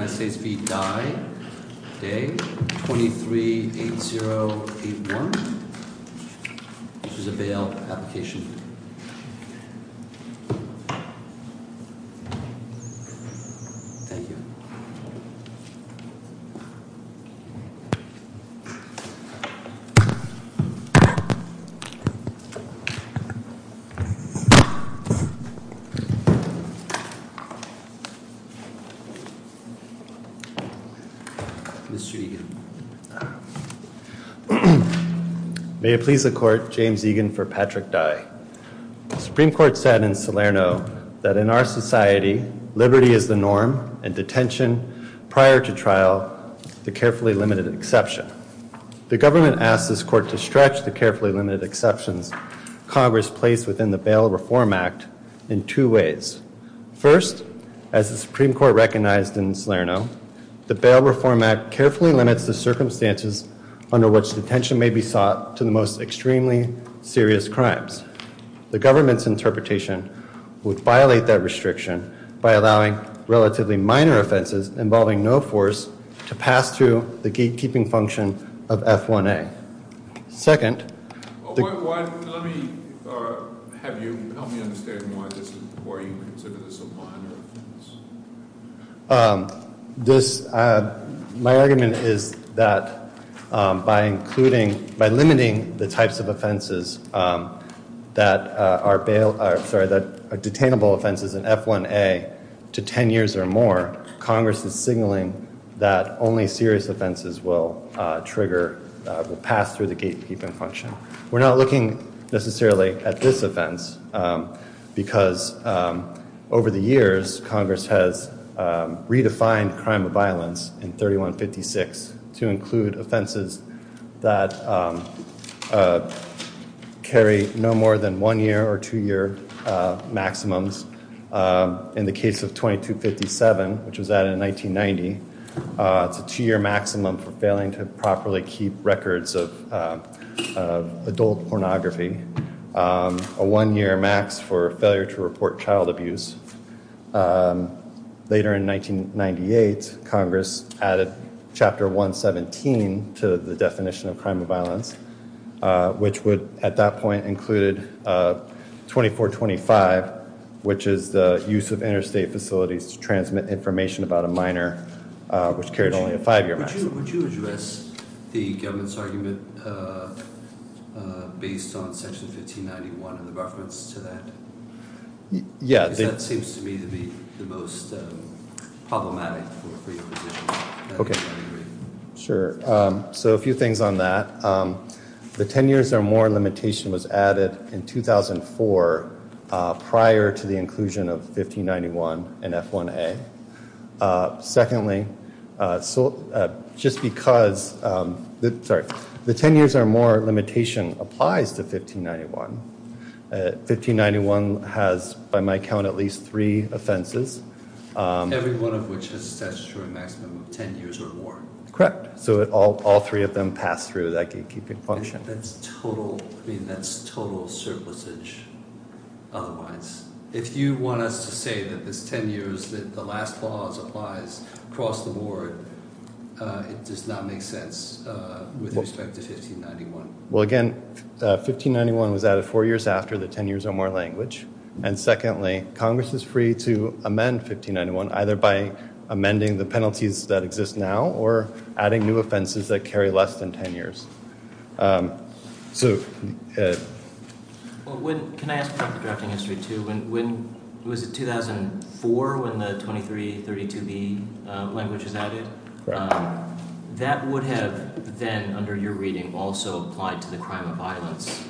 238081. This is a bail application. Mr. Egan. May it please the court, James Egan for Patrick Dai. The Supreme Court said in Salerno that in our society liberty is the norm and detention prior to trial the carefully limited exception. The government asked this court to stretch the carefully limited exceptions Congress placed within the Bail Reform Act in two ways. First, as the Supreme Court recognized in Salerno, the Bail Reform Act carefully limits the circumstances under which detention may be sought to the most extremely serious crimes. The government's interpretation would violate that restriction by allowing relatively minor offenses involving no force to pass through the gatekeeping function of F1A. Second, my argument is that by including, by limiting the types of offenses that are detainable offenses in F1A to 10 years or more, Congress is signaling that only serious offenses will trigger, will pass through the gatekeeping function. We're not looking necessarily at this offense because over the years Congress has redefined crime of violence in 3156 to include offenses that carry no more than one year or two year maximums. In the case of 2257, which was a two year maximum for failing to properly keep records of adult pornography, a one year max for failure to report child abuse. Later in 1998, Congress added Chapter 117 to the definition of crime of violence, which would at that point included 2425, which is the use of interstate facilities to transmit information about a minor, which carried only a five year maximum. Would you address the government's argument based on Section 1591 in reference to that? Yeah. Because that seems to me to be the most problematic for your position. Okay, sure. So a few things on that. The 10 years or more limitation applies to 1591. 1591 has, by my count, at least three offenses. Every one of which has a statutory maximum of 10 years or more. Correct. So all three of them pass through that gatekeeping function. That's total, I mean, that's total surplusage. Otherwise, if you want us to say that this 10 years that the last clause applies across the board, it does not make sense with respect to 1591. Well, again, 1591 was added four years after the 10 years or more language. And secondly, Congress is free to amend 1591 either by So, can I ask about the drafting history too? Was it 2004 when the 2332B language was added? That would have then, under your reading, also applied to the crime of violence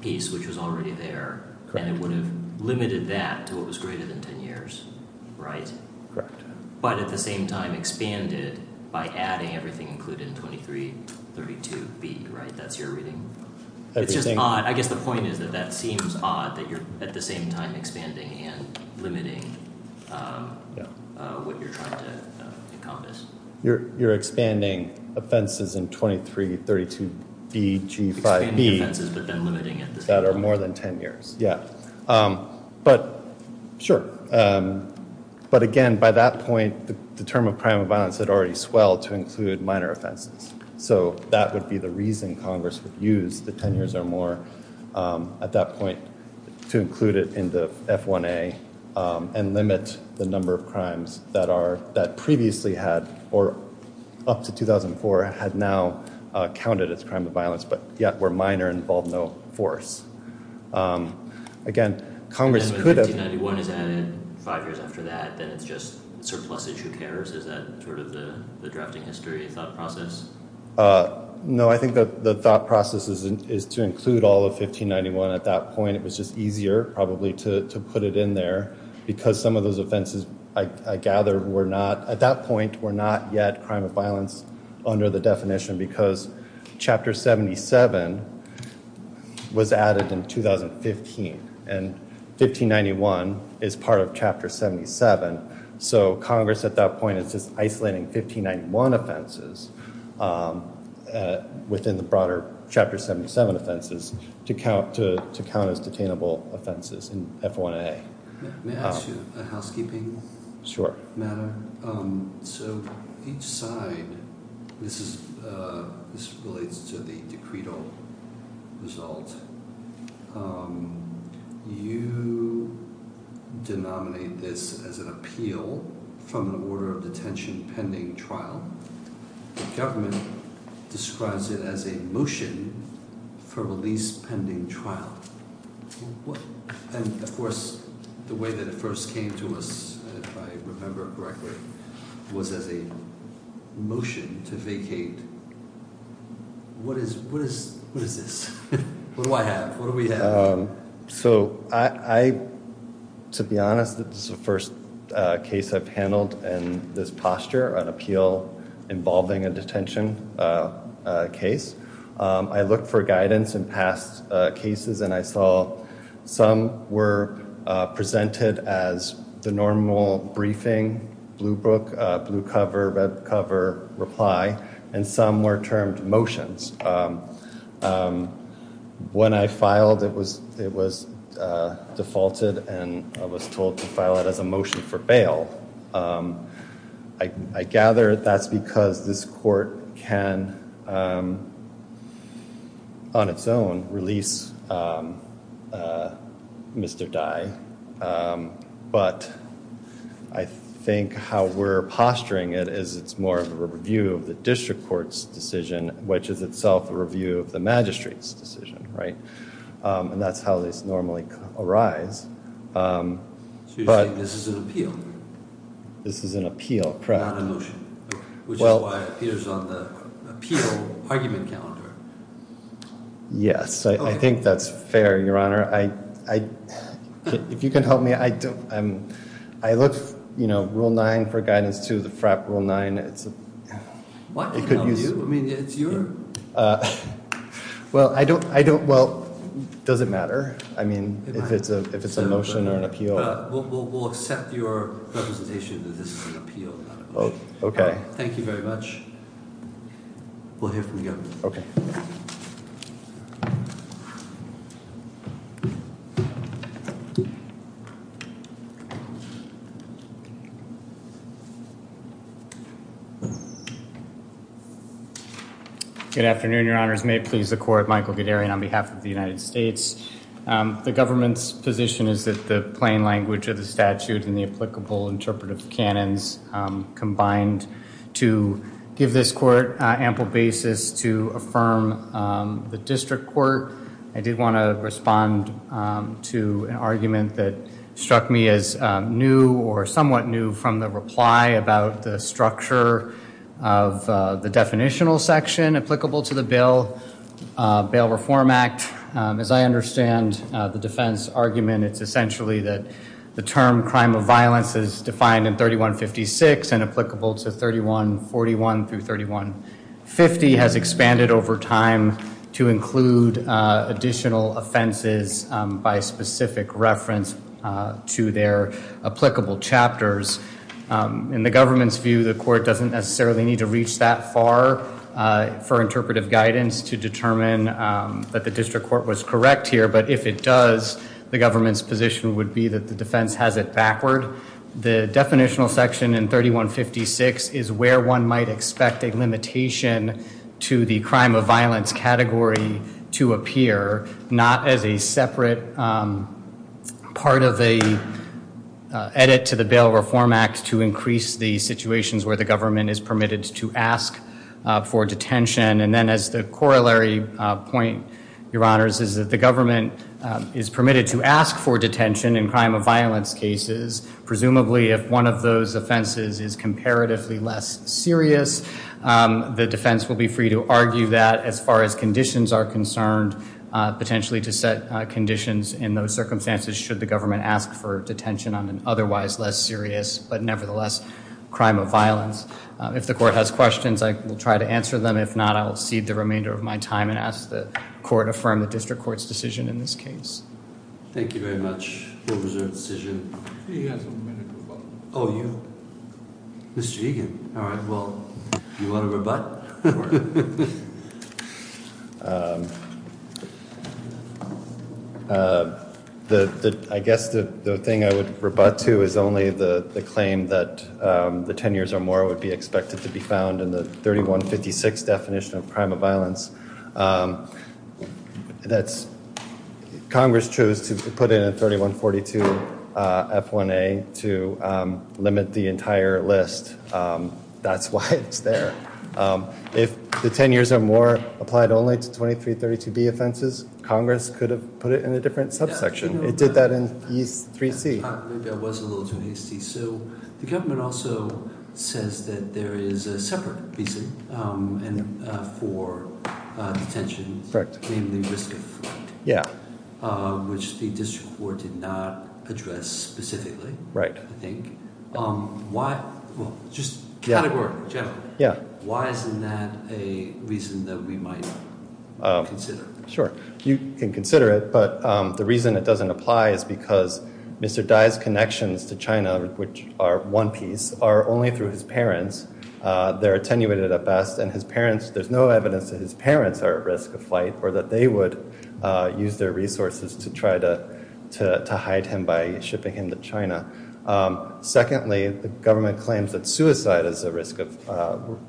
piece, which was already there, and it would have limited that to what was greater than 10 years, right? Correct. But at the same time expanded by adding everything included in 2332B, right? That's your reading. It's just odd. I guess the point is that that seems odd that you're at the same time expanding and limiting what you're trying to encompass. You're expanding offenses in 2332B, G5B. Expanding offenses but then limiting at the same time. That are more than 10 years. Yeah. But, sure. But again, by that point, the term of crime of violence had already swelled to include minor offenses. So, that would be the reason Congress would use the 10 years or more at that point to include it in the F1A and limit the number of crimes that previously had, or up to 2004, had now counted as crime of violence, but yet were minor and involved no force. Again, Congress could have... And then when 1591 is added, five years after that, then it's just surplusage. Who cares? Is that sort of the drafting history thought process? No, I think that the thought process is to include all of 1591 at that point. It was just easier probably to put it in there because some of those offenses, I gather, were not, at that point, were not yet crime of violence under the definition because Chapter 77 was added in 2015 and 1591 is part of Chapter 77. So, Congress at that point is just isolating 1591 offenses within the broader Chapter 77 offenses to count as detainable offenses in F1A. May I ask you a housekeeping matter? Sure. So, each side, this relates to the decreto result. You denominate this as an appeal from an order of detention pending trial. The government describes it as a motion for release pending trial. And, of course, the way that it first came to us, if I remember correctly, was as a motion to vacate. What is this? What do I have? What do we have? So, I, to be honest, this is the first case I've handled in this posture, an appeal involving a detention case. I looked for guidance in past cases and I saw some were presented as the normal briefing, blue book, blue cover, red cover reply, and some were termed motions. When I filed, it was defaulted and I was told to file it as a motion for bail. I gather that's because this court can, on its own, release Mr. Dye. But I think how we're posturing it is it's more of a review of the district court's decision, which is itself a review of the magistrate's decision, right? And that's how this normally arise. So, you're saying this is an appeal? This is an appeal, correct. Not a motion, which is why it appears on the appeal argument calendar. Yes, I think that's fair, Your Honor. I, if you can help me, I don't, I look, you know, rule nine for guidance to the FRAP rule nine. It's, it could use, I mean, it's your, well, I don't, I don't, well, does it matter? I mean, if it's a, if it's a motion or an appeal. We'll accept your representation that this is an appeal, not a motion. Okay. Thank you very much. We'll hear from you. Okay. Good afternoon, Your Honors. May it please the court, Michael Gadarian on behalf of the United States. The government's position is that the plain language of the statute and the applicable interpretive canons combined to give this court ample basis to affirm the district court. I did want to respond to an argument that struck me as new or somewhat new from the reply about the structure of the definitional section applicable to the bill. Bail Reform Act. As I understand the defense argument, it's essentially that the term crime of violence is defined in 3156 and applicable to 3141 through 3150 has expanded over time to include additional offenses by specific reference to their applicable chapters. In the government's view, the court doesn't necessarily need to reach that far for interpretive guidance to determine that the district court was correct here. But if it does, the government's position would be that the defense has it backward. The definitional section in 3156 is where one might expect a limitation to the crime of violence category to appear, not as a separate part of a edit to the Bail Reform Act to increase the situations where the government is permitted to ask for detention. And then as the corollary point, your honors, is that the government is permitted to ask for detention in crime of violence cases. Presumably, if one of those offenses is comparatively less serious, the defense will be free to argue that as far as conditions are concerned, potentially to set conditions in those circumstances should the government ask for detention on an otherwise less serious, but nevertheless, crime of violence. If the court has questions, I will try to answer them. If not, I will cede the remainder of my time and ask the court affirm the district court's decision in this case. Thank you very much. He has a minute of rebuttal. Oh, you? Mr. Egan. All right. Well, you want to rebut? I guess the thing I would rebut to is only the claim that the 10 years or more would be expected to be found in the 3156 definition of crime of violence. Congress chose to put in a 3142 F1A to limit the entire list. That's why it's there. If the 10 years or more applied only to 2332B offenses, Congress could have put it in a different subsection. It did that in 3C. Maybe I was a little too hasty. The government also says that there is a separate reason for detention, namely risk of fraud, which the district court did not address specifically, I think. Just categorically, generally, why isn't that a reason that we might consider? Sure, you can consider it, but the reason it doesn't apply is because Mr. Dai's connections to China, which are one piece, are only through his parents. They're attenuated at best, and there's no evidence that his parents are at risk of flight or that they would use their resources to try to hide him by shipping him to China. Secondly, the government claims that suicide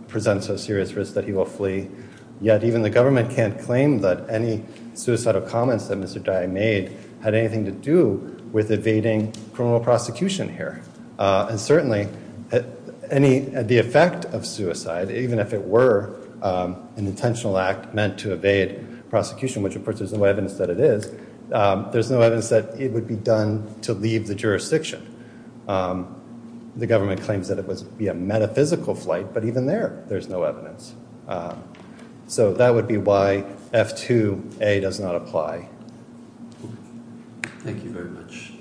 presents a serious risk that he will flee. Yet even the government can't claim that any suicidal comments that Mr. Dai made had anything to do with evading criminal prosecution here. Certainly, the effect of suicide, even if it were an intentional act meant to evade prosecution, which of course there's no evidence that it is, there's no evidence that it would be done to leave the jurisdiction. The government claims that it would be a metaphysical flight, but even there, there's no evidence. So that would be why F2A does not apply. Thank you very much.